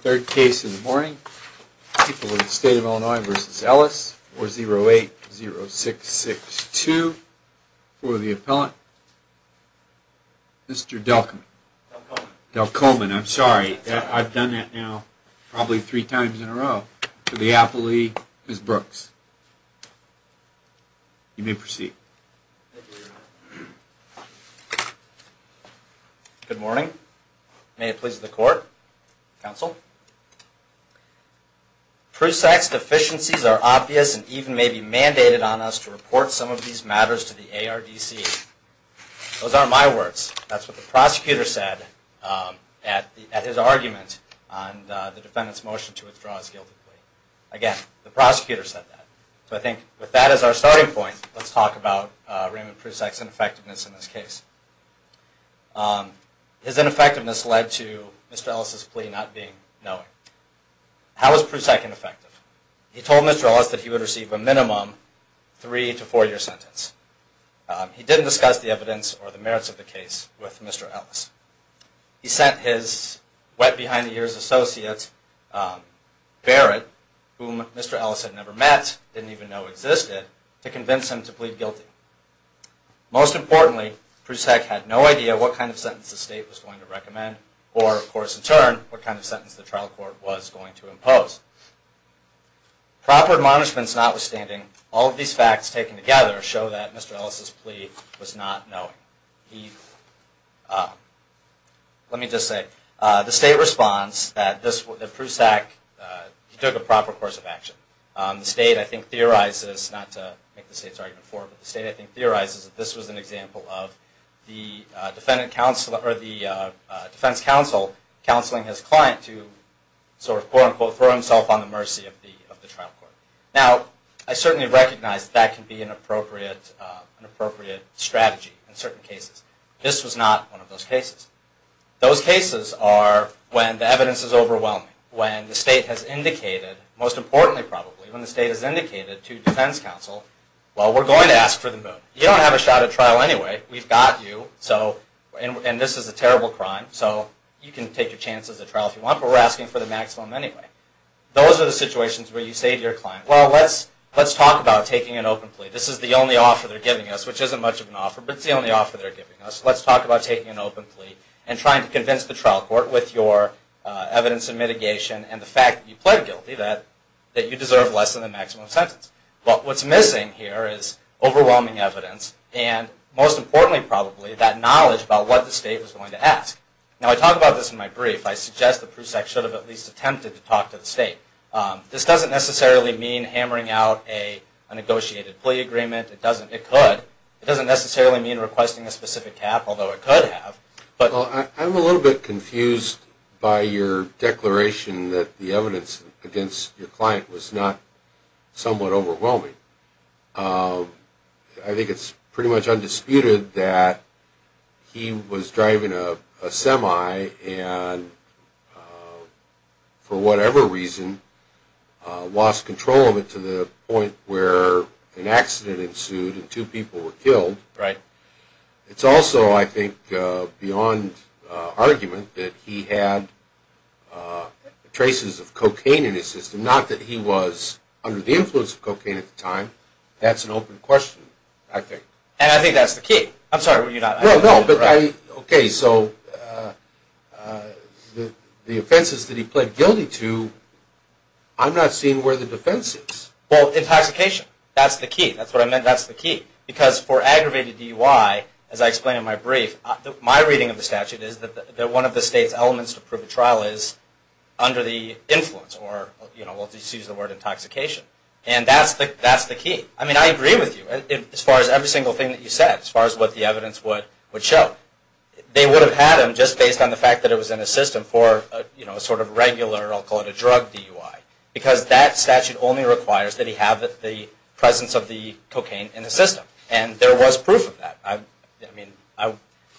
Third case in the morning, people in the state of Illinois v. Ellis, 408-0662, for the appellant, Mr. Delcomen. Delcomen, I'm sorry, I've done that now probably three times in a row. To the aptly, Ms. Brooks. You may proceed. Thank you, Your Honor. Good morning. May it please the court. Counsel. Prusak's deficiencies are obvious and even may be mandated on us to report some of these matters to the ARDC. Those aren't my words. That's what the prosecutor said at his argument on the defendant's motion to withdraw his guilt. Again, the prosecutor said that. So I think with that as our starting point, let's talk about Raymond Prusak's ineffectiveness in this case. His ineffectiveness led to Mr. Ellis' plea not being known. How was Prusak ineffective? He told Mr. Ellis that he would receive a minimum three to four year sentence. He didn't discuss the evidence or the merits of the case with Mr. Ellis. He sent his wet-behind-the-ears associate, Barrett, whom Mr. Ellis had never met, didn't even know existed, to convince him to plead guilty. Most importantly, Prusak had no idea what kind of sentence the state was going to recommend or, of course, in turn, what kind of sentence the trial court was going to impose. Proper admonishments notwithstanding, all of these facts taken together show that Mr. Ellis' plea was not known. Let me just say, the state responds that Prusak took a proper course of action. The state, I think, theorizes, not to make the state's argument forward, but the state, I think, theorizes that this was an example of the defense counsel counseling his client to sort of, quote-unquote, throw himself on the mercy of the trial court. Now, I certainly recognize that that can be an appropriate strategy in certain cases. This was not one of those cases. Those cases are when the evidence is overwhelming, when the state has indicated, most importantly probably, when the state has indicated to defense counsel, well, we're going to ask for the moon. You don't have a shot at trial anyway. We've got you, and this is a terrible crime, so you can take your chance at the trial if you want, but we're asking for the maximum anyway. Those are the situations where you say to your client, well, let's talk about taking an open plea. This is the only offer they're giving us, which isn't much of an offer, but it's the only offer they're giving us. Let's talk about taking an open plea and trying to convince the trial court with your evidence and mitigation and the fact that you plead guilty that you deserve less than the maximum sentence. But what's missing here is overwhelming evidence and, most importantly probably, that knowledge about what the state was going to ask. Now, I talk about this in my brief. I suggest the PROSEC should have at least attempted to talk to the state. This doesn't necessarily mean hammering out a negotiated plea agreement. It doesn't necessarily mean requesting a specific cap, although it could have. Well, I'm a little bit confused by your declaration that the evidence against your client was not somewhat overwhelming. I think it's pretty much undisputed that he was driving a semi and, for whatever reason, lost control of it to the point where an accident ensued and two people were killed. It's also, I think, beyond argument that he had traces of cocaine in his system. Not that he was under the influence of cocaine at the time. That's an open question, I think. And I think that's the key. The offenses that he pled guilty to, I'm not seeing where the defense is. Well, intoxication. That's the key. Because for aggravated DUI, as I explain in my brief, my reading of the statute is that one of the state's elements to prove a trial is under the influence, or we'll just use the word intoxication. And that's the key. I mean, I agree with you as far as every single thing that you said, as far as what the evidence would show. They would have had him just based on the fact that it was in his system for a sort of regular, I'll call it a drug DUI. Because that statute only requires that he have the presence of the cocaine in the system. And there was proof of that. I mean, I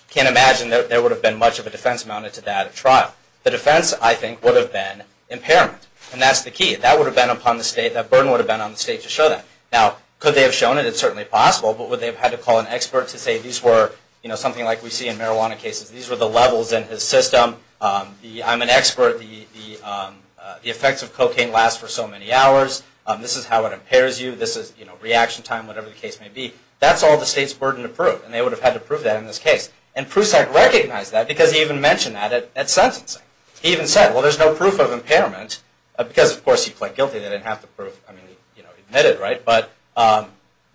can't imagine that there would have been much of a defense mounted to that trial. The defense, I think, would have been impairment. And that's the key. That burden would have been on the state to show that. Now, could they have shown it? It's certainly possible. But would they have had to call an expert to say, these were something like we see in marijuana cases. These were the levels in his system. I'm an expert. The effects of cocaine last for so many hours. This is how it impairs you. This is reaction time, whatever the case may be. That's all the state's burden to prove. And they would have had to prove that in this case. And Prusak recognized that because he even mentioned that at sentencing. He even said, well, there's no proof of impairment. Because, of course, he pled guilty.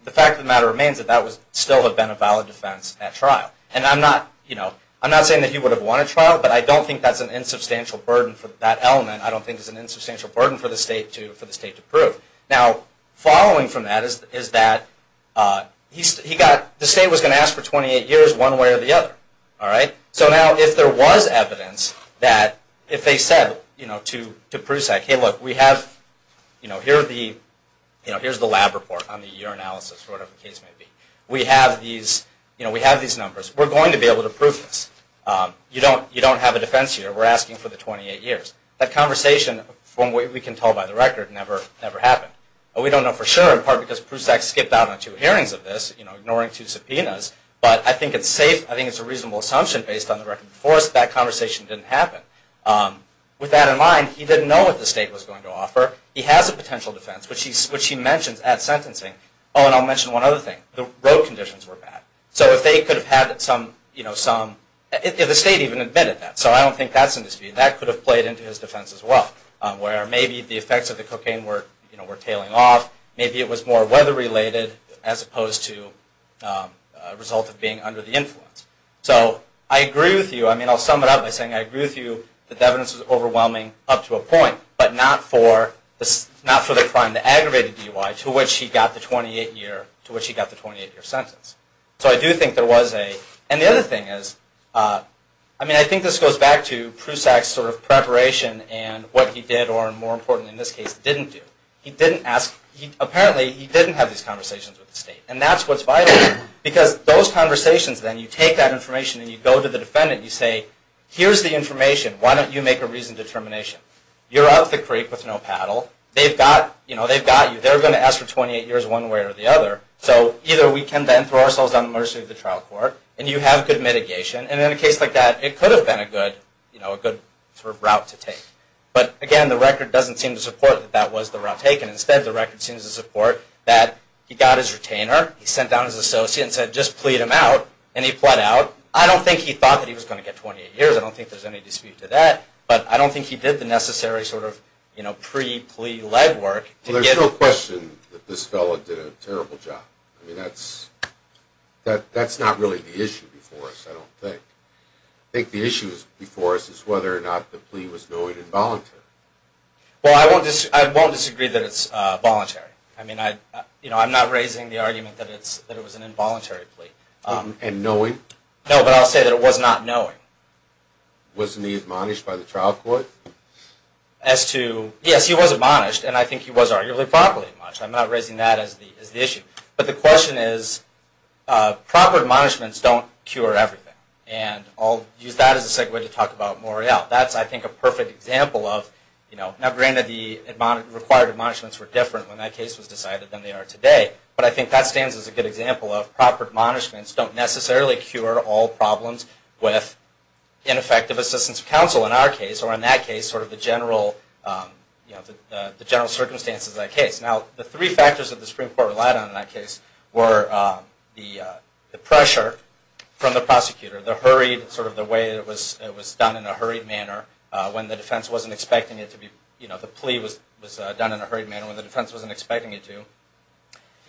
The fact of the matter remains that that would still have been a valid defense at trial. And I'm not saying that he would have won a trial. But I don't think that's an insubstantial burden for that element. I don't think it's an insubstantial burden for the state to prove. Now, following from that is that the state was going to ask for 28 years one way or the other. So now, if there was evidence that if they said to Prusak, hey, look, here's the lab report on the urinalysis, or whatever the case may be. We have these numbers. We're going to be able to prove this. You don't have a defense here. We're asking for the 28 years. That conversation, from what we can tell by the record, never happened. We don't know for sure, in part because Prusak skipped out on two hearings of this, ignoring two subpoenas. But I think it's safe. I think it's a reasonable assumption based on the record before us that that conversation didn't happen. With that in mind, he didn't know what the state was going to offer. He has a potential defense, which he mentions at sentencing. Oh, and I'll mention one other thing. The road conditions were bad. The state even admitted that. So I don't think that's in dispute. That could have played into his defense as well, where maybe the effects of the cocaine were tailing off. Maybe it was more weather-related as opposed to a result of being under the influence. So I agree with you. I mean, I'll sum it up by saying I agree with you that the evidence was overwhelming up to a point, but not for the crime, the aggravated DUI, to which he got the 28-year sentence. And the other thing is, I mean, I think this goes back to Prusak's preparation and what he did, or more importantly in this case, didn't do. Apparently, he didn't have these conversations with the state. And that's what's vital. Because those conversations then, you take that information and you go to the defendant and you say, here's the information. Why don't you make a reasoned determination? You're out at the creek with no paddle. They've got you. They're going to ask for 28 years one way or the other. So either we can then throw ourselves on the mercy of the trial court and you have good mitigation. And in a case like that, it could have been a good route to take. But again, the record doesn't seem to support that that was the route taken. I don't think he did the necessary sort of pre-plea-led work. Well, there's no question that this fellow did a terrible job. I mean, that's not really the issue before us, I don't think. I think the issue before us is whether or not the plea was knowing and voluntary. Well, I won't disagree that it's voluntary. I mean, I'm not raising the argument that it was an involuntary plea. And knowing? No, but I'll say that it was not knowing. Wasn't he admonished by the trial court? Yes, he was admonished, and I think he was arguably properly admonished. I'm not raising that as the issue. But the question is, proper admonishments don't cure everything. And I'll use that as a segue to talk about Morrell. Now, granted, the required admonishments were different when that case was decided than they are today. But I think that stands as a good example of proper admonishments don't necessarily cure all problems with ineffective assistance of counsel in our case, or in that case, sort of the general circumstances of that case. Now, the three factors that the Supreme Court relied on in that case were the pressure from the prosecutor, the hurried, sort of the way it was done in a hurried manner when the defense wasn't expecting it to be, you know, the plea was done in a hurried manner when the defense wasn't expecting it to,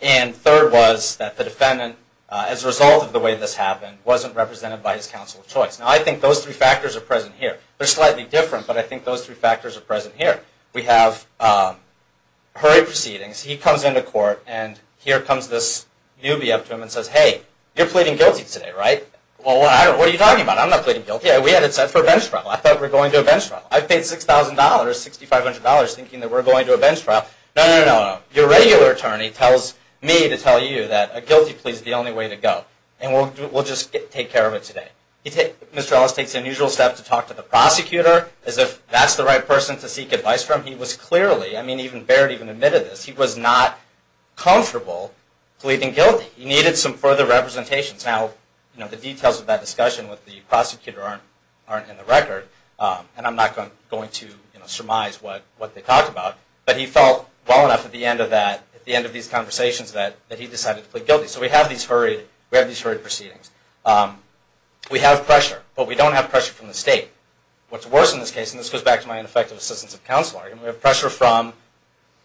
and third was that the defendant, as a result of the way this happened, wasn't represented by his counsel of choice. Now, I think those three factors are present here. They're slightly different, but I think those three factors are present here. We have hurried proceedings. He comes into court, and here comes this newbie up to him and says, hey, you're pleading guilty today, right? Well, what are you talking about? I'm not pleading guilty. We had it set for a bench trial. I thought we were going to a bench trial. I paid $6,000, $6,500 thinking that we were going to a bench trial. No, no, no, no. Your regular attorney tells me to tell you that a guilty plea is the only way to go, and we'll just take care of it today. Mr. Ellis takes the unusual step to talk to the prosecutor as if that's the right person to seek advice from. He was clearly, I mean, even Baird even admitted this. He was not comfortable pleading guilty. He needed some further representations. Now, the details of that discussion with the prosecutor aren't in the record, and I'm not going to surmise what they talked about, but he felt well enough at the end of that, at the end of these conversations, that he decided to plead guilty. So we have these hurried proceedings. We have pressure, but we don't have pressure from the state. What's worse in this case, and this goes back to my ineffective assistance of counselor, we have pressure from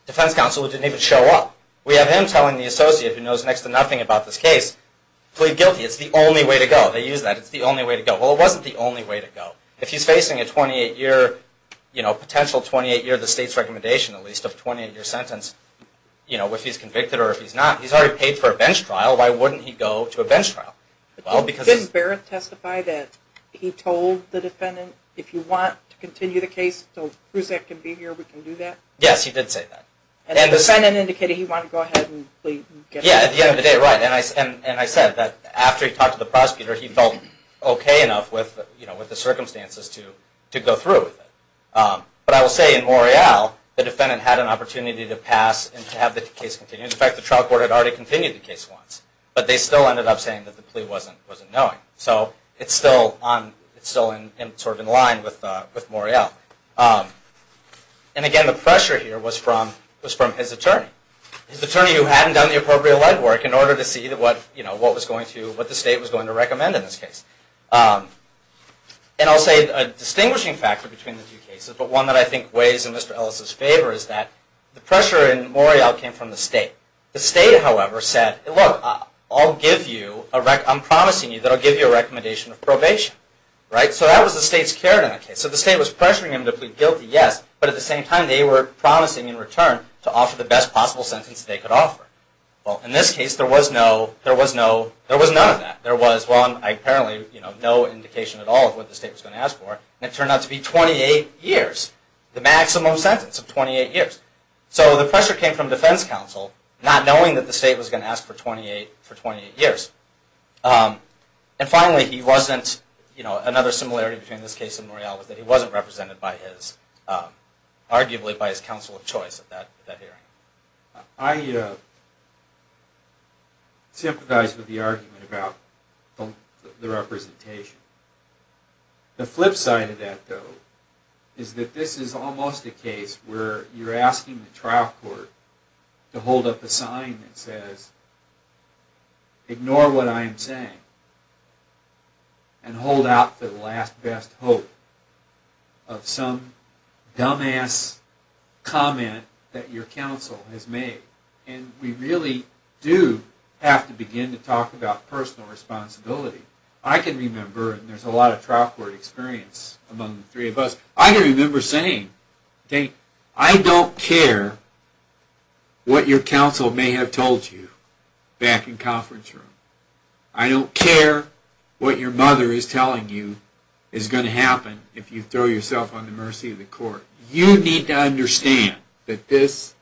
defense counsel who didn't even show up. We have him telling the associate who knows next to nothing about this case, plead guilty. It's the only way to go. They use that. It's the only way to go. Well, it wasn't the only way to go. If he's facing a 28-year, you know, potential 28-year, the state's recommendation, at least, of a 28-year sentence, you know, if he's convicted or if he's not, he's already paid for a bench trial. Why wouldn't he go to a bench trial? Well, because... Didn't Barrett testify that he told the defendant, if you want to continue the case until Prusak can be here, we can do that? Yes, he did say that. And the defendant indicated he wanted to go ahead and plead guilty. Yeah, at the end of the day, right. And I said that after he talked to the prosecutor, he felt okay enough with the circumstances to go through with it. But I will say, in Morreale, the defendant had an opportunity to pass and to have the case continue. In fact, the trial court had already continued the case once, but they still ended up saying that the plea wasn't knowing. So it's still sort of in line with Morreale. And again, the pressure here was from his attorney. His attorney who hadn't done the appropriate legwork in order to see what the state was going to recommend in this case. And I'll say a distinguishing factor between the two cases, but one that I think weighs in Mr. Ellis's favor is that the pressure in Morreale came from the state. The state, however, said, look, I'll give you... I'm promising you that I'll give you a recommendation of probation. Right? So that was the state's carrot in the case. So the state was pressuring him to plead guilty, yes, but at the same time, they were promising in return to offer the best possible sentence they could offer. Well, in this case, there was none of that. There was, well, apparently, no indication at all of what the state was going to ask for. And it turned out to be 28 years, the maximum sentence of 28 years. So the pressure came from defense counsel, not knowing that the state was going to ask for 28 years. And finally, he wasn't, you know, another similarity between this case and Morreale, was that he wasn't represented by his, arguably by his counsel of choice at that hearing. I sympathize with the argument about the representation. The flip side of that, though, is that this is almost a case where you're asking the trial court to hold up a sign that says, ignore what I am saying, and hold out for the last, best hope of some dumbass comment that your counsel has made. And we really do have to begin to talk about personal responsibility. I can remember, and there's a lot of trial court experience among the three of us, I can remember saying, I don't care what your counsel may have told you back in conference room. I don't care what your mother is telling you is going to happen if you throw yourself on the mercy of the court. You need to understand that this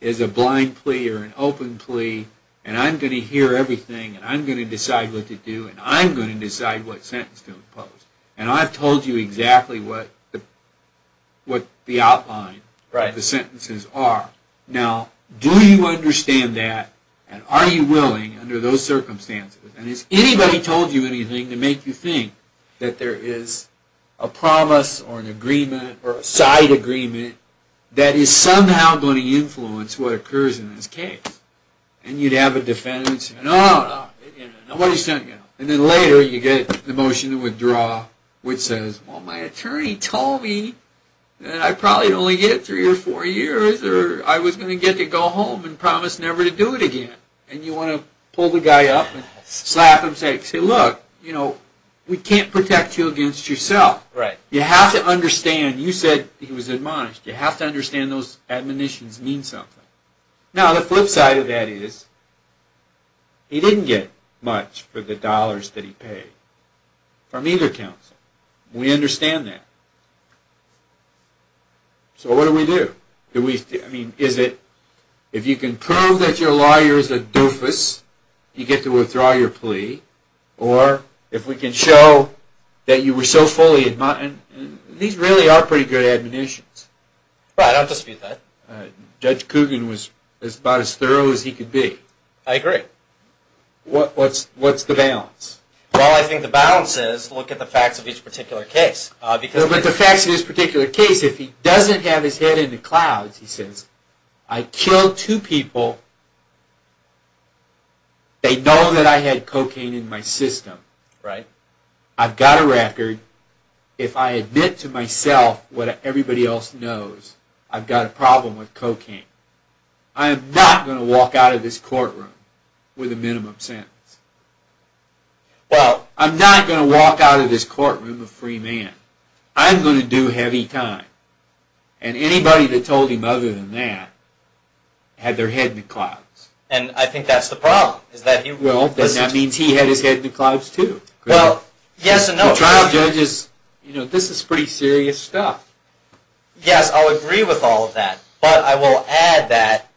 is a blind plea or an open plea, and I'm going to hear everything, and I'm going to decide what to do, and I'm going to decide what sentence to impose. And I've told you exactly what the outline of the sentences are. Now, do you understand that, and are you willing, under those circumstances, and has anybody told you anything to make you think that there is a promise or an agreement or a side agreement that is somehow going to influence what occurs in this case? And you'd have a defendant say, no, no, no, nobody sent you. And then later you get the motion to withdraw, which says, well, my attorney told me that I'd probably only get three or four years, or I was going to get to go home and promise never to do it again. And you want to pull the guy up and slap him and say, look, we can't protect you against yourself. You have to understand, you said he was admonished, you have to understand those admonitions mean something. Now, the flip side of that is he didn't get much for the dollars that he paid from either counsel. We understand that. So what do we do? If you can prove that your lawyer is a doofus, you get to withdraw your plea, or if we can show that you were so fully admonished, and these really are pretty good admonitions. I think the question was about as thorough as he could be. I agree. What's the balance? Well, I think the balance is look at the facts of each particular case. But the facts of each particular case, if he doesn't have his head in the clouds, he says, I killed two people, they know that I had cocaine in my system. I've got a record. If I admit to myself what everybody else knows, I've got a problem with cocaine. I am not going to walk out of this courtroom with a minimum sentence. Well, I'm not going to walk out of this courtroom a free man. I'm going to do heavy time. And anybody that told him other than that had their head in the clouds. And I think that's the problem. This is pretty serious stuff. Yes, I'll agree with all of that. But I will add that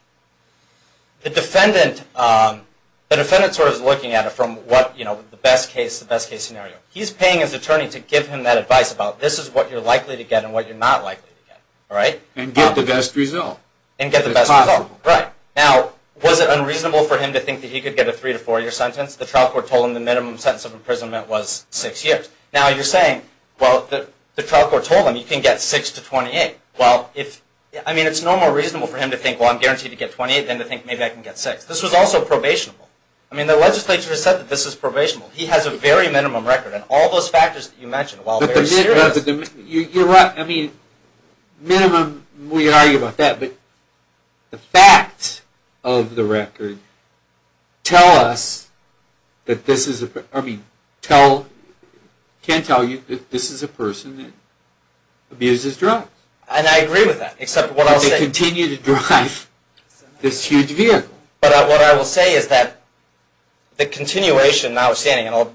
the defendant is looking at it from the best case scenario. He's paying his attorney to give him that advice about this is what you're likely to get and what you're not likely to get. And get the best result. Now, was it unreasonable for him to think that he could get a three to four year sentence? The trial court told him the minimum sentence of imprisonment was six years. Now, you're saying, well, the trial court told him you can get six to 28. Well, it's no more reasonable for him to think, well, I'm guaranteed to get 28 than to think maybe I can get six. This was also probationable. The legislature has said that this is probationable. He has a very minimum record. You're right. Minimum, we can argue about that. But the facts of the record can tell you that this is a person that abuses drugs. And I agree with that. But they continue to drive this huge vehicle. But what I will say is that the continuation notwithstanding, and I'll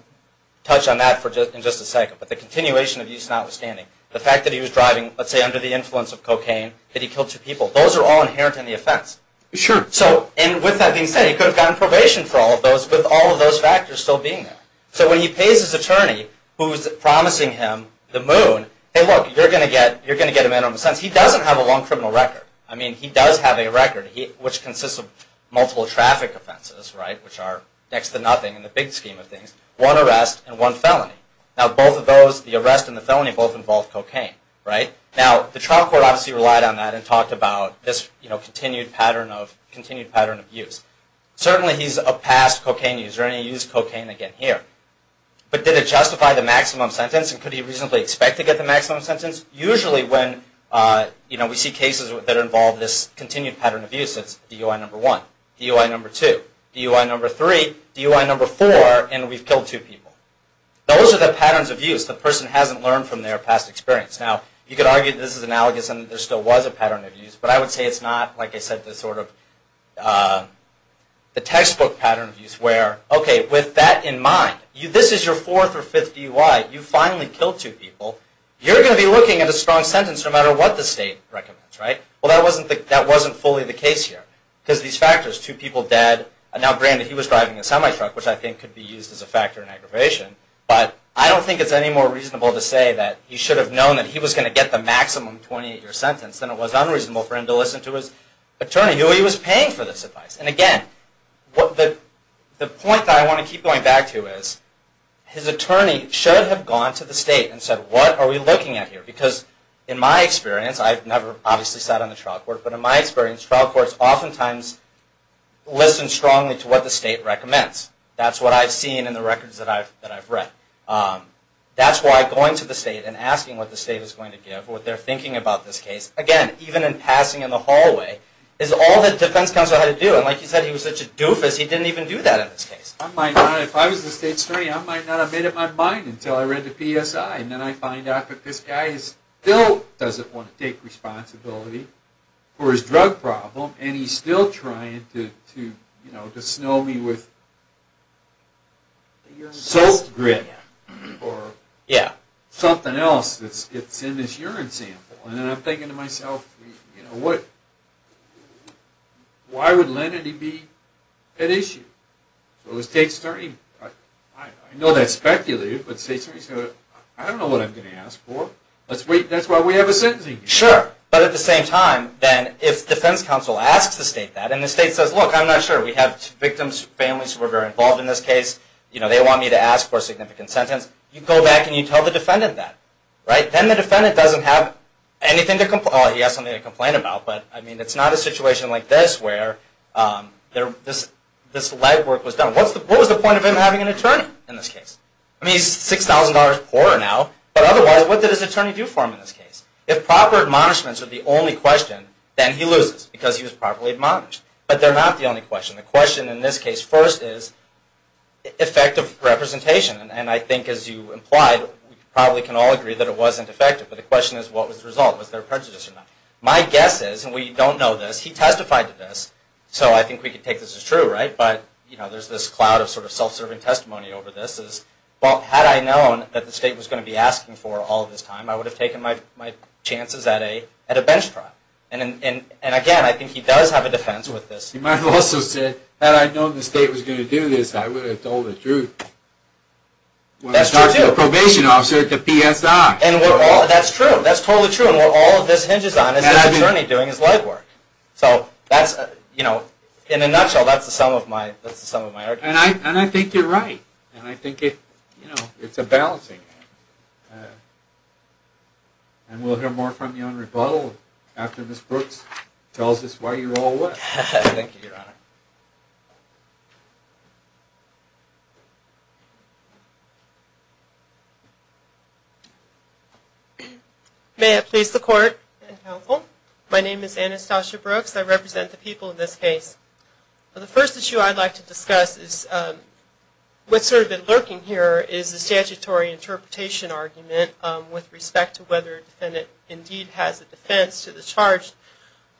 touch on that in just a second, but the continuation of use notwithstanding, the fact that he was driving, let's say under the influence of cocaine, that he killed two people, those are all inherent in the offense. And with that being said, he could have gotten probation for all of those with all of those factors still being there. So when he pays his attorney, who's promising him the moon, you're going to get a minimum sentence. He doesn't have a long criminal record. He does have a record, which consists of multiple traffic offenses, which are next to nothing in the big scheme of things. One arrest and one felony. Now, the trial court obviously relied on that and talked about this continued pattern of use. Certainly he's a past cocaine user, and he used cocaine again here. But did it justify the maximum sentence, and could he reasonably expect to get the maximum sentence? Usually when we see cases that involve this continued pattern of use, it's DUI number one, DUI number two, DUI number three, DUI number four, and we've killed two people. Those are the patterns of use the person hasn't learned from their past experience. Now, you could argue that this is analogous and that there still was a pattern of use, but I would say it's not, like I said, the textbook pattern of use where, okay, with that in mind, this is your fourth or fifth DUI, you finally killed two people, you're going to be looking at a strong sentence no matter what the state recommends. Well, that wasn't fully the case here, because these factors, two people dead, now granted, he was driving a semi-truck, which I think could be used as a factor in aggravation, but I don't think it's any more reasonable to say that he should have known that he was going to get the maximum 28-year sentence than it was unreasonable for him to listen to his attorney, who he was paying for this advice. And again, the point that I want to keep going back to is his attorney should have gone to the state and said, what are we looking at here? Because in my experience, I've never obviously sat on the trial court, but in my experience, trial courts oftentimes listen strongly to what the state recommends. That's what I've seen in the records that I've read. That's why going to the state and asking what the state is going to give, what they're thinking about this case, again, even in passing in the hallway, is all that defense counsel had to do. And like you said, he was such a doofus, he didn't even do that in this case. If I was the state's attorney, I might not have made up my mind until I read the PSI, and then I find out that this guy still doesn't want to take responsibility for his drug problem, and he's still trying to snow me with soap grit or something else that's in his urine sample. And then I'm thinking to myself, why would lenity be at issue? I know that's speculative, but I don't know what I'm going to ask for. That's why we have a sentencing case. Sure, but at the same time, if defense counsel asks the state that, and the state says, look, I'm not sure, we have victims, families who are very involved in this case, they want me to ask for a significant sentence, you go back and you tell the defendant that. Then the defendant doesn't have anything to complain about. It's not a situation like this where this legwork was done. What was the point of him having an attorney in this case? I mean, he's $6,000 poorer now, but otherwise, what did his attorney do for him in this case? If proper admonishments are the only question, then he loses, because he was properly admonished. But they're not the only question. The question in this case first is effective representation. And I think, as you implied, we probably can all agree that it wasn't effective. But the question is, what was the result? Was there prejudice or not? My guess is, and we don't know this, he testified to this, so I think we can take this as true. But there's this cloud of self-serving testimony over this. Had I known that the state was going to be asking for all this time, I would have taken my chances at a bench trial. And again, I think he does have a defense with this. You might also say, had I known the state was going to do this, I would have told the truth. That's true, too. And what all of this hinges on is his attorney doing his legwork. In a nutshell, that's the sum of my argument. And I think you're right. It's a balancing act. And we'll hear more from you on rebuttal after Ms. Brooks tells us why you all left. Thank you, Your Honor. May it please the Court and Counsel. My name is Anastasia Brooks. I represent the people in this case. The first issue I'd like to discuss is what's sort of been lurking here is the statutory interpretation argument with respect to whether a defendant indeed has a defense to the charge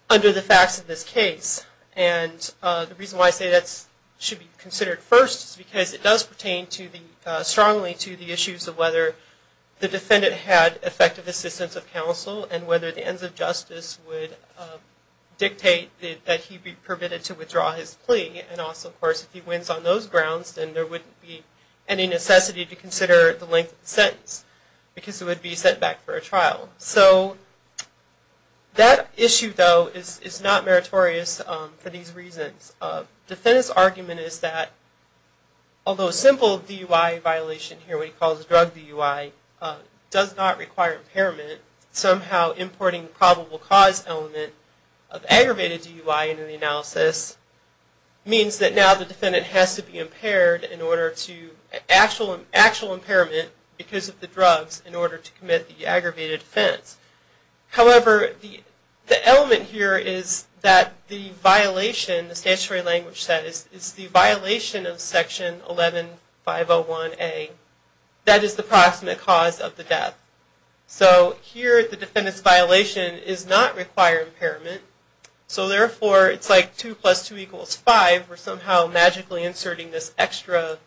under the facts of this case. And the reason why I say that should be considered first is because it does pertain strongly to the issues of whether the defendant had effective assistance of counsel and whether the ends of justice would dictate that he be permitted to withdraw his plea. And also, of course, if he wins on those grounds, then there wouldn't be any necessity to consider the length of the sentence because it would be sent back for a trial. So that issue, though, is not meritorious for these reasons. The defendant's argument is that although a simple DUI violation here, what he calls a drug DUI, does not require impairment, somehow importing the probable cause element of aggravated DUI into the analysis means that now the defendant has to be impaired in order to actual impairment because of the drugs in order to commit the aggravated offense. However, the element here is that the violation, the statutory language set is the violation of Section 11-501A that is the proximate cause of the death. So here the defendant's claim does not require impairment. So therefore it's like 2 plus 2 equals 5. We're somehow magically inserting this extra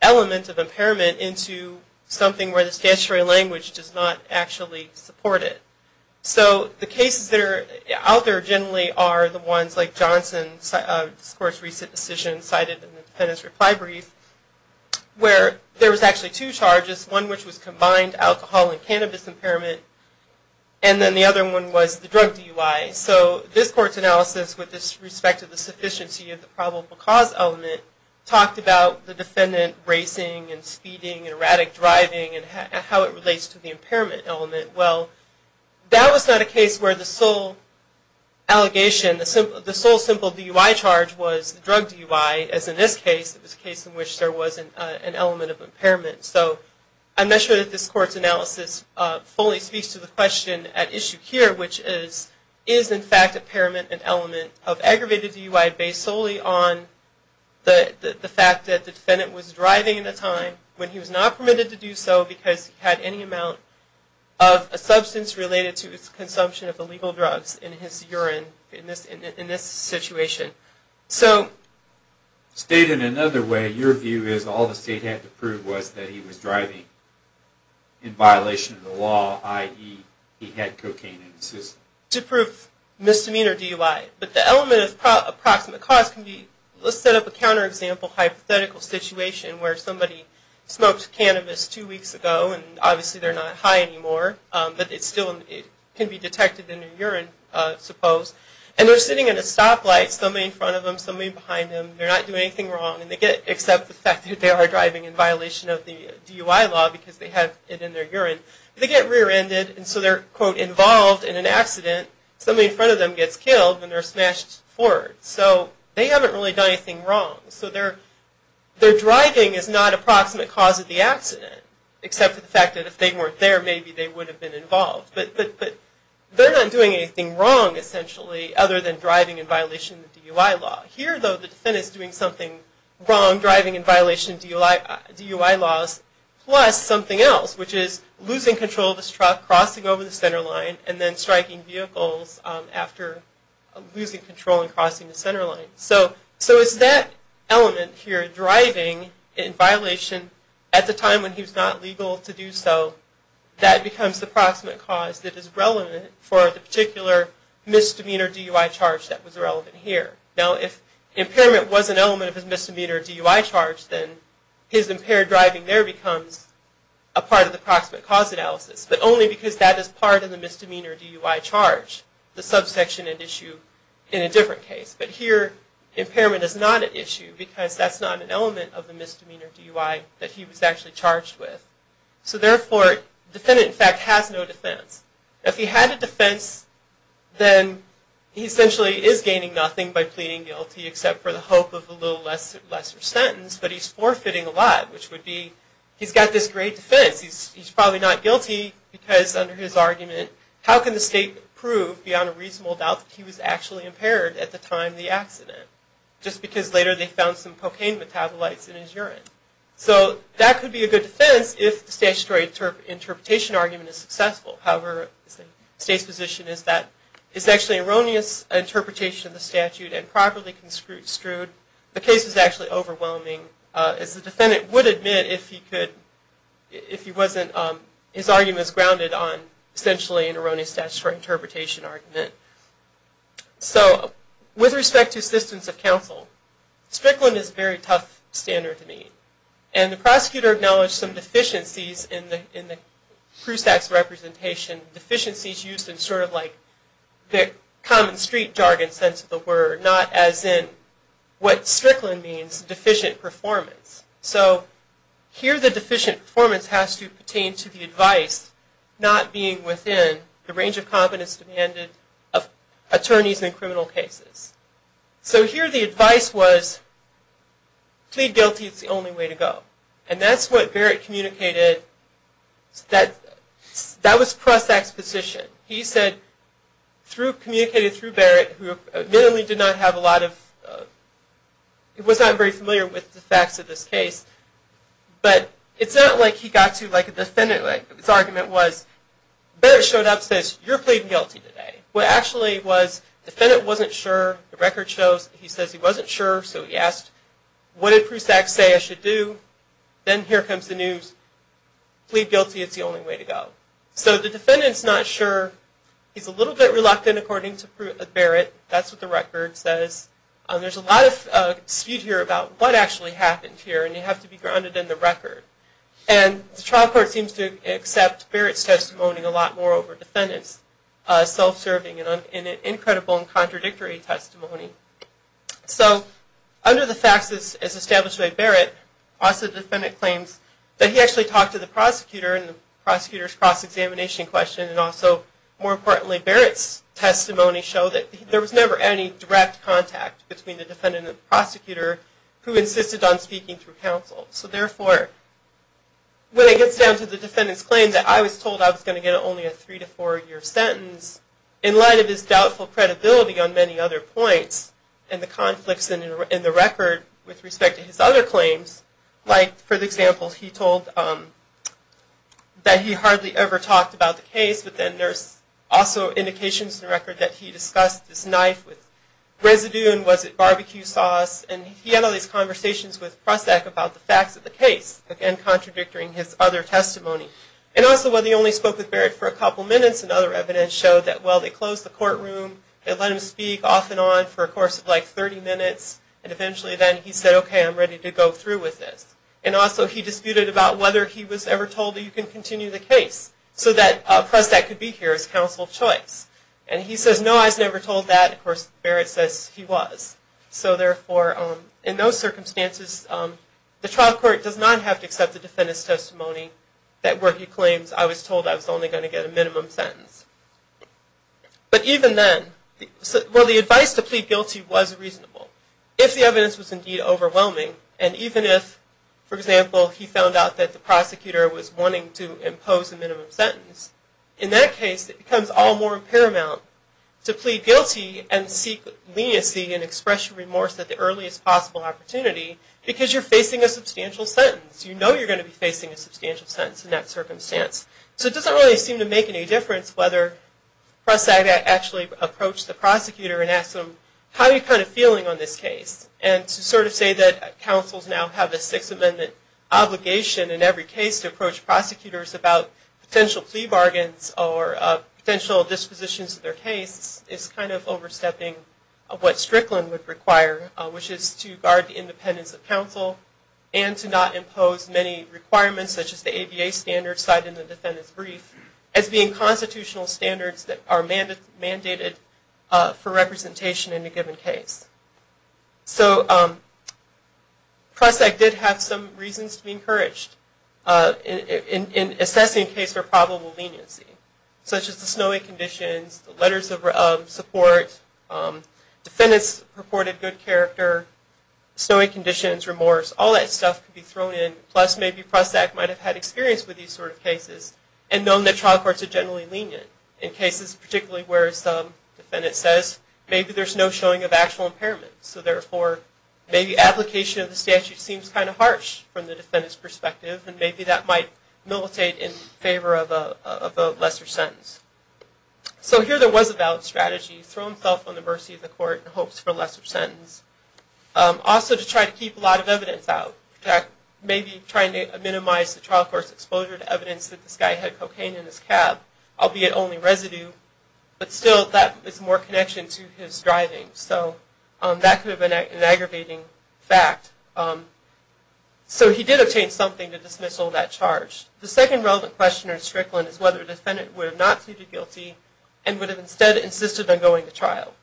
element of impairment into something where the statutory language does not actually support it. So the cases that are out there generally are the ones like Johnson's recent decision cited in the defendant's reply brief where there was actually two charges, one which was combined alcohol and cannabis impairment and then the other one was the drug DUI. So this court's analysis with respect to the sufficiency of the probable cause element talked about the defendant racing and speeding and erratic driving and how it relates to the impairment element. Well, that was not a case where the sole allegation, the sole simple DUI charge was the drug DUI as in this case, it was a case in which there was an element of impairment. So I'm not sure that this court's analysis fully speaks to the question at issue here which is is in fact impairment an element of aggravated DUI based solely on the fact that the defendant was driving at the time when he was not permitted to do so because he had any amount of a substance related to his consumption of illegal drugs in his urine in this situation. So stated another way, your view is all the state had to prove was that he was driving in violation of the law, i.e. he had cocaine in his system. To prove misdemeanor DUI, but the element of approximate cause can be, let's set up a counterexample hypothetical situation where somebody smoked cannabis two weeks ago and obviously they're not high anymore, but it still can be detected in their urine suppose. And they're sitting in a stoplight, somebody in front of them, somebody behind them, they're not doing anything wrong except the fact that they are driving in violation of the DUI law because they have it in their urine. They get rear-ended and so they're quote involved in an accident. Somebody in front of them gets killed and they're smashed forward. So they haven't really done anything wrong. So their driving is not approximate cause of the accident except for the fact that if they weren't there maybe they would have been involved. But they're not doing anything wrong essentially other than driving in violation of the DUI law. Here though the defendant is doing something wrong driving in violation of DUI laws plus something else which is losing control of his truck, crossing over the center line and then striking vehicles after losing control and crossing the center line. So it's that element here driving in violation at the time when he was not legal to do so that becomes the approximate cause that is relevant for the particular misdemeanor DUI charge that was relevant here. Now if impairment was an element of his misdemeanor DUI charge then his impaired driving there becomes a part of the approximate cause analysis but only because that is part of the misdemeanor DUI charge. The subsection and issue in a different case. But here impairment is not an issue because that's not an element of the misdemeanor DUI that he was actually charged with. So therefore the defendant in fact has no defense. If he had a defense then he essentially is gaining nothing by pleading guilty except for the hope of a little lesser sentence but he's forfeiting a lot which would be he's got this great defense. He's probably not guilty because under his argument how can the state prove beyond a reasonable doubt that he was actually impaired at the time of the accident just because later they found some cocaine metabolites in his urine. So that could be a good defense if the statutory interpretation argument is successful. However the state's position is that it's actually an erroneous interpretation of the statute and properly construed. The case is actually overwhelming as the defendant would admit if he wasn't his argument is grounded on essentially an erroneous statutory interpretation argument. So with respect to assistance of counsel Strickland is a very tough standard to meet. And the prosecutor acknowledged some deficiencies in the crew tax representation. Deficiencies used in sort of like the common street jargon sense of the word. Not as in what Strickland means deficient performance. So here the deficient performance has to pertain to the advice not being within the range of competence demanded of attorneys in criminal cases. So here the advice was plead guilty is the only way to go. And that's what Barrett communicated that was press exposition. He said through communicating through Barrett who admittedly did not have a lot of, was not very familiar with the facts of this case. But it's not like he got to like a defendant like his argument was Barrett showed up and says you're pleading guilty today. What actually was the defendant wasn't sure. The record shows he says he wasn't sure so he asked what did crew tax say I should do. Then here comes the news. Plead guilty is the only way to go. So the defendant's not sure. He's a little bit reluctant according to Barrett. That's what the record says. There's a lot of dispute here about what actually happened here and you have to be grounded in the record. And the trial court seems to accept Barrett's testimony a lot more over defendant's self-serving and incredible and contradictory testimony. So under the facts as established by Barrett also the defendant claims that he actually talked to the prosecutor in the prosecutor's cross-examination question and also more importantly Barrett's testimony showed that there was never any direct contact between the defendant and the prosecutor who insisted on speaking through counsel. So therefore when it gets down to the defendant's claim that I was told I was going to get only a three to four year sentence in light of his doubtful credibility on many other points and the conflicts in the record with respect to his other claims like for example he told that he hardly ever talked about the case but then there's also indications in the record that he discussed this knife with residue and was it barbecue sauce and he had all these conversations with Prusak about the facts of the case, again contradicting his other testimony. And also whether he only spoke with Barrett for a couple minutes and other evidence showed that well they closed the courtroom, they let him speak off and on for a course of like 30 minutes and eventually then he said okay I'm ready to go through with this. And also he disputed about whether he was ever told that you can continue the case so that Prusak could be here as counsel of choice. And he says no I was never told that of course Barrett says he was. So therefore in those circumstances the trial court does not have to accept the defendant's testimony that where he claims I was told I was only going to get a minimum sentence. But even then well the advice to plead guilty was reasonable. If the evidence was indeed overwhelming and even if for example he found out that the prosecutor was wanting to impose a minimum sentence in that case it becomes all the more paramount to plead guilty and seek leniency and express remorse at the earliest possible opportunity because you're facing a substantial sentence. You know you're going to be facing a substantial sentence in that circumstance. So it doesn't really seem to make any difference whether Prusak actually approached the prosecutor and have a Sixth Amendment obligation in every case to approach prosecutors about potential plea bargains or potential dispositions of their case. It's kind of overstepping what Strickland would require which is to guard the independence of counsel and to not impose many requirements such as the ABA standards cited in the defendant's brief as being constitutional standards that are mandated for representation in a given case. So Prusak did have some reasons to be encouraged in assessing a case for probable leniency such as the snowy conditions, the letters of support, defendants purported good character, snowy conditions, remorse, all that stuff could be thrown in plus maybe Prusak might have had experience with these sort of cases and known that trial court defendant says maybe there's no showing of actual impairments. So therefore maybe application of the statute seems kind of harsh from the defendant's perspective and maybe that might militate in favor of a lesser sentence. So here there was a valid strategy, throw himself on the mercy of the court in hopes for a lesser sentence. Also to try to keep a lot of evidence out. Maybe try to minimize the trial court's exposure to evidence that this guy had cocaine in his cab, albeit only residue, but still that is more connection to his driving. So that could have been an aggravating fact. So he did obtain something to dismissal that charge. The second relevant question in Strickland is whether the defendant would have not pleaded guilty and would have instead insisted on going to trial.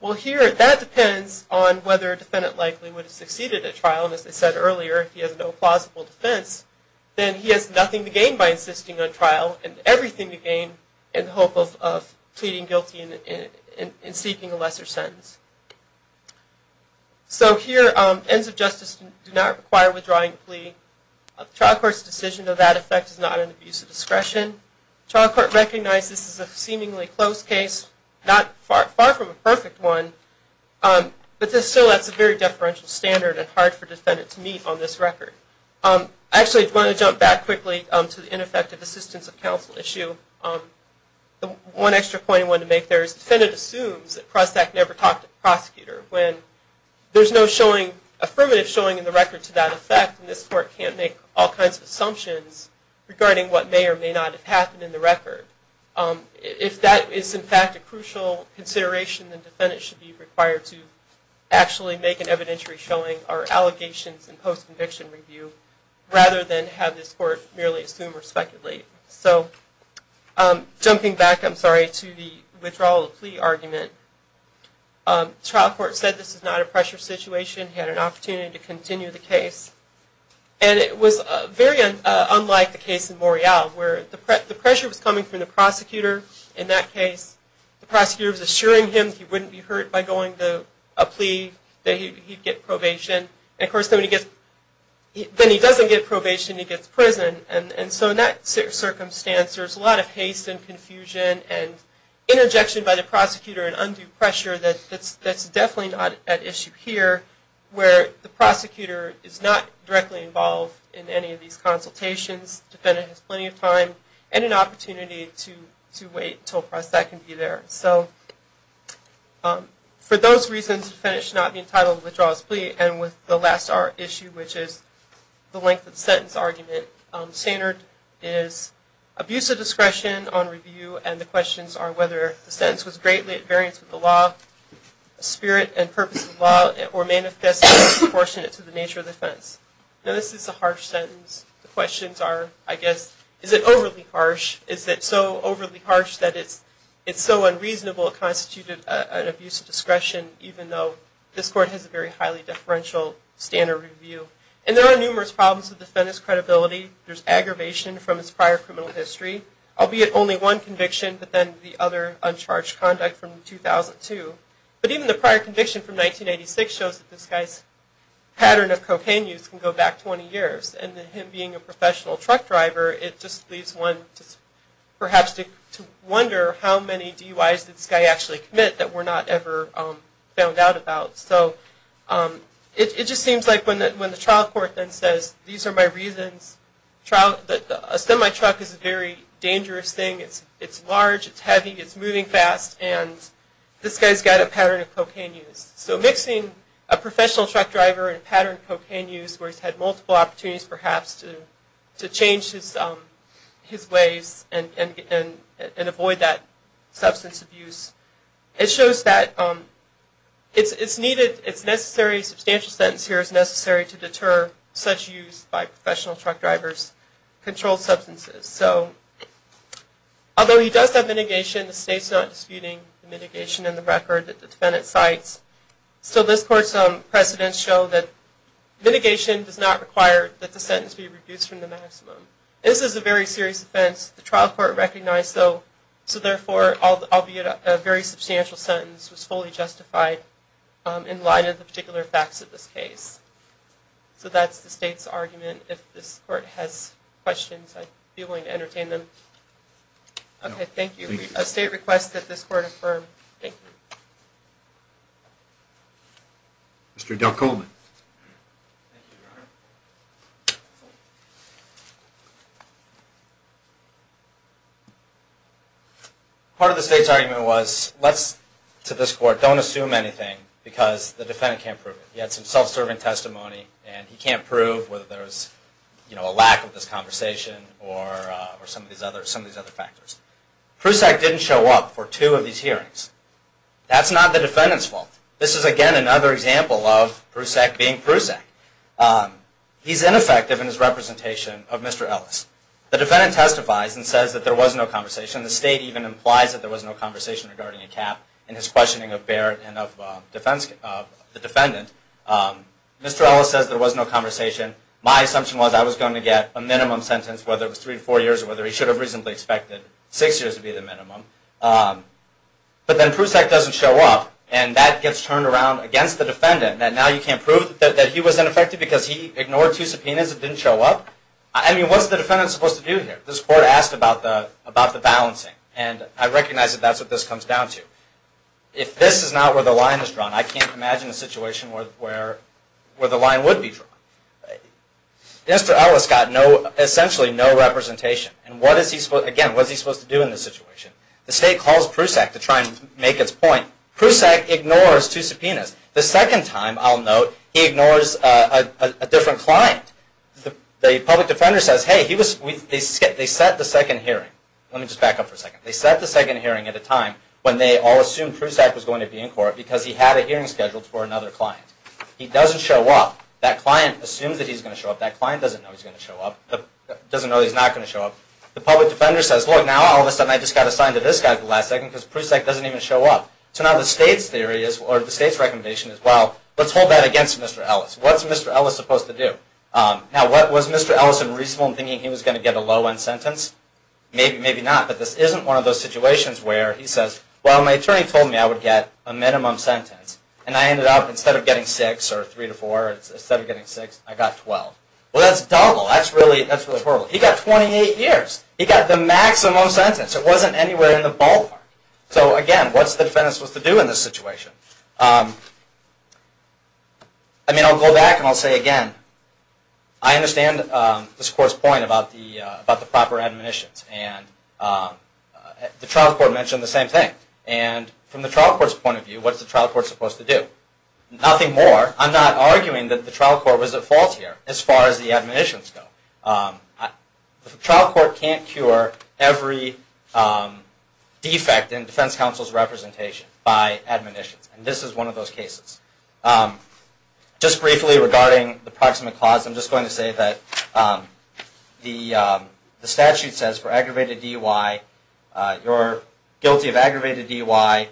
Well here that depends on whether a defendant likely would have gained by insisting on trial and everything to gain in the hope of pleading guilty and seeking a lesser sentence. So here ends of justice do not require withdrawing a plea. The trial court's decision of that effect is not an abuse of discretion. The trial court recognizes this is a seemingly close case, far from a perfect one, but still that's a very deferential standard and hard for defendant to meet on this record. I actually want to jump back quickly to the ineffective assistance of counsel issue. One extra point I wanted to make there is defendant assumes that Prostack never talked to the prosecutor when there's no affirmative showing in the record to that effect and this court can't make all kinds of assumptions regarding what may or may not have happened in the record. If that is in fact a crucial consideration, then defendant should be required to actually make an evidentiary showing or allegations in post-conviction review rather than have this court merely assume or speculate. So jumping back, I'm sorry, to the withdrawal of the plea argument, trial court said this is not a pressure situation, had an opportunity to continue the case and it was very unlike the case in Morial where the pressure was coming from the prosecutor. In that case, the prosecutor was assuring him he wouldn't be hurt by going to a plea, that he'd get probation. Then he doesn't get probation, he gets prison and so in that circumstance there's a lot of haste and confusion and interjection by the prosecutor and undue pressure that's definitely not at issue here where the prosecutor has a lot of time and an opportunity to wait until a press that can be there. For those reasons, the defendant should not be entitled to withdraw his plea and with the last issue which is the length of the sentence argument, standard is abuse of discretion on review and the questions are whether the sentence was greatly at variance with the law, spirit and purpose of the law or may have been disproportionate to the nature of the offense. Now this is a harsh sentence. The questions are, I guess, is it overly harsh? Is it so overly harsh that it's so unreasonable it constituted an abuse of discretion even though this court has a very highly differential standard review? And there are numerous problems with the defendant's credibility. There's aggravation from his prior criminal history, albeit only one conviction but then the other uncharged conduct from 2002. But even the prior conviction from 1986 shows that this guy's pattern of cocaine use can go back 20 years and him being a professional truck driver it just leaves one perhaps to wonder how many DUIs did this guy actually commit that we're not ever found out about. So it just seems like when the trial court then says these are my reasons, a semi-truck is a very dangerous thing. It's large, it's heavy, it's moving fast and this guy's got a pattern of cocaine use. So mixing a professional truck driver and a pattern of cocaine use where he's had multiple opportunities perhaps to change his ways and avoid that substance abuse, it shows that it's necessary, a substantial sentence here is necessary to deter such use by professional truck drivers of controlled substances. Although he does have mitigation, the state's not disputing mitigation in the record that the defendant cites. So this court's precedents show that mitigation does not require that the sentence be reduced from the maximum. This is a very serious offense. The trial court recognized so therefore albeit a very substantial sentence was fully justified in light of the particular facts of this case. So that's the state's argument. If this court has questions, I'd be willing to entertain them. Okay, thank you. A state request that this court affirm. Thank you. Mr. Del Coleman. Thank you, Your Honor. Part of the state's argument was let's, to this court, don't assume anything because the defendant can't prove it. He had some self-serving testimony and he can't prove whether there's a lack of this conversation or some of these other factors. Prusak didn't show up for two of these hearings. That's not the defendant's fault. This is again another example of Prusak being Prusak. He's ineffective in his representation of Mr. Ellis. The defendant testifies and says that there was no conversation. The state even implies that there was no conversation regarding a cap in his questioning of Barrett and of the defendant. Mr. Ellis says there was no conversation. My assumption was I was going to get a minimum sentence whether it was three to four years or whether he should have reasonably expected six years to be the minimum. But then Prusak doesn't show up and that gets turned around against the defendant. Now you can't prove that he was ineffective because he ignored two subpoenas and didn't show up? I mean, what's the defendant supposed to do here? This court asked about the balancing and I recognize that that's what this comes down to. If this is not where the line is drawn, I can't imagine a situation where the line would be drawn. Mr. Ellis got essentially no representation. Again, what is he supposed to do in this situation? The state calls Prusak to try and make its point. Prusak ignores two subpoenas. The second time, I'll note, he ignores a different client. The public defender says, hey, they set the second hearing. Let me just back up for a second. They set the second hearing at a time when they all assumed Prusak was going to be in court because he had a hearing scheduled for another client. He doesn't show up. That client assumes that he's going to show up. That client doesn't know he's not going to show up. The public defender says, look, now all of a sudden I just got assigned to this guy for the last second because Prusak doesn't even show up. The state's recommendation is, well, let's hold that against Mr. Ellis. What's Mr. Ellis supposed to do? Now, was Mr. Ellis unreasonable in thinking he was going to get a low-end sentence? Maybe, maybe not. But this isn't one of those situations where he says, well, my attorney told me I would get a minimum sentence. And I ended up, instead of getting 6 or 3 to 4, instead of getting 6, I got 12. Well, that's dumb. That's really horrible. He got 28 years. He got the maximum sentence. It wasn't anywhere in the ballpark. So, again, what's the defense supposed to do in this situation? I mean, I'll go back and I'll say admonitions. And the trial court mentioned the same thing. And from the trial court's point of view, what's the trial court supposed to do? Nothing more. I'm not arguing that the trial court was at fault here as far as the admonitions go. The trial court can't cure every defect in defense counsel's representation by admonitions. And this is one of those cases. Just briefly regarding the proximate cause, I'm just going to say that the statute says for aggravated DUI, you're guilty of aggravated DUI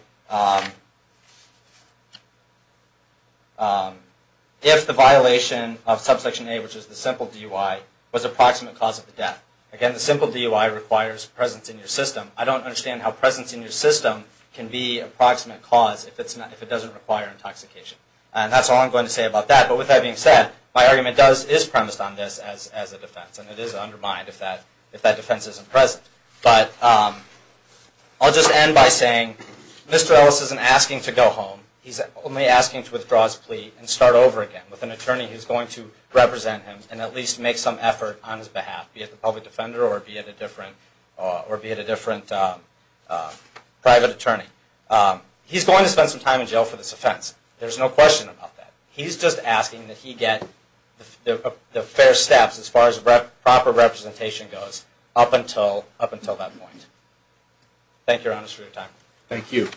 if the violation of subsection A, which is the simple DUI, was a proximate cause of the death. Again, the simple DUI requires presence in your system. I don't understand how presence in your system can be a proximate cause if it doesn't require intoxication. And that's all I'm going to say about that. But with that being said, my argument is premised on this as a defense. And it is undermined if that defense isn't present. But I'll just end by saying Mr. Ellis isn't asking to go home. He's only asking to withdraw his plea and start over again with an attorney who's going to represent him and at least make some effort on his behalf, be it the public defender or be it a different private attorney. He's going to spend some time in jail for this offense. There's no question about that. He's just asking that he get the fair steps as far as proper representation goes up until that point. Thank you, Your Honor, for your time. Thank you.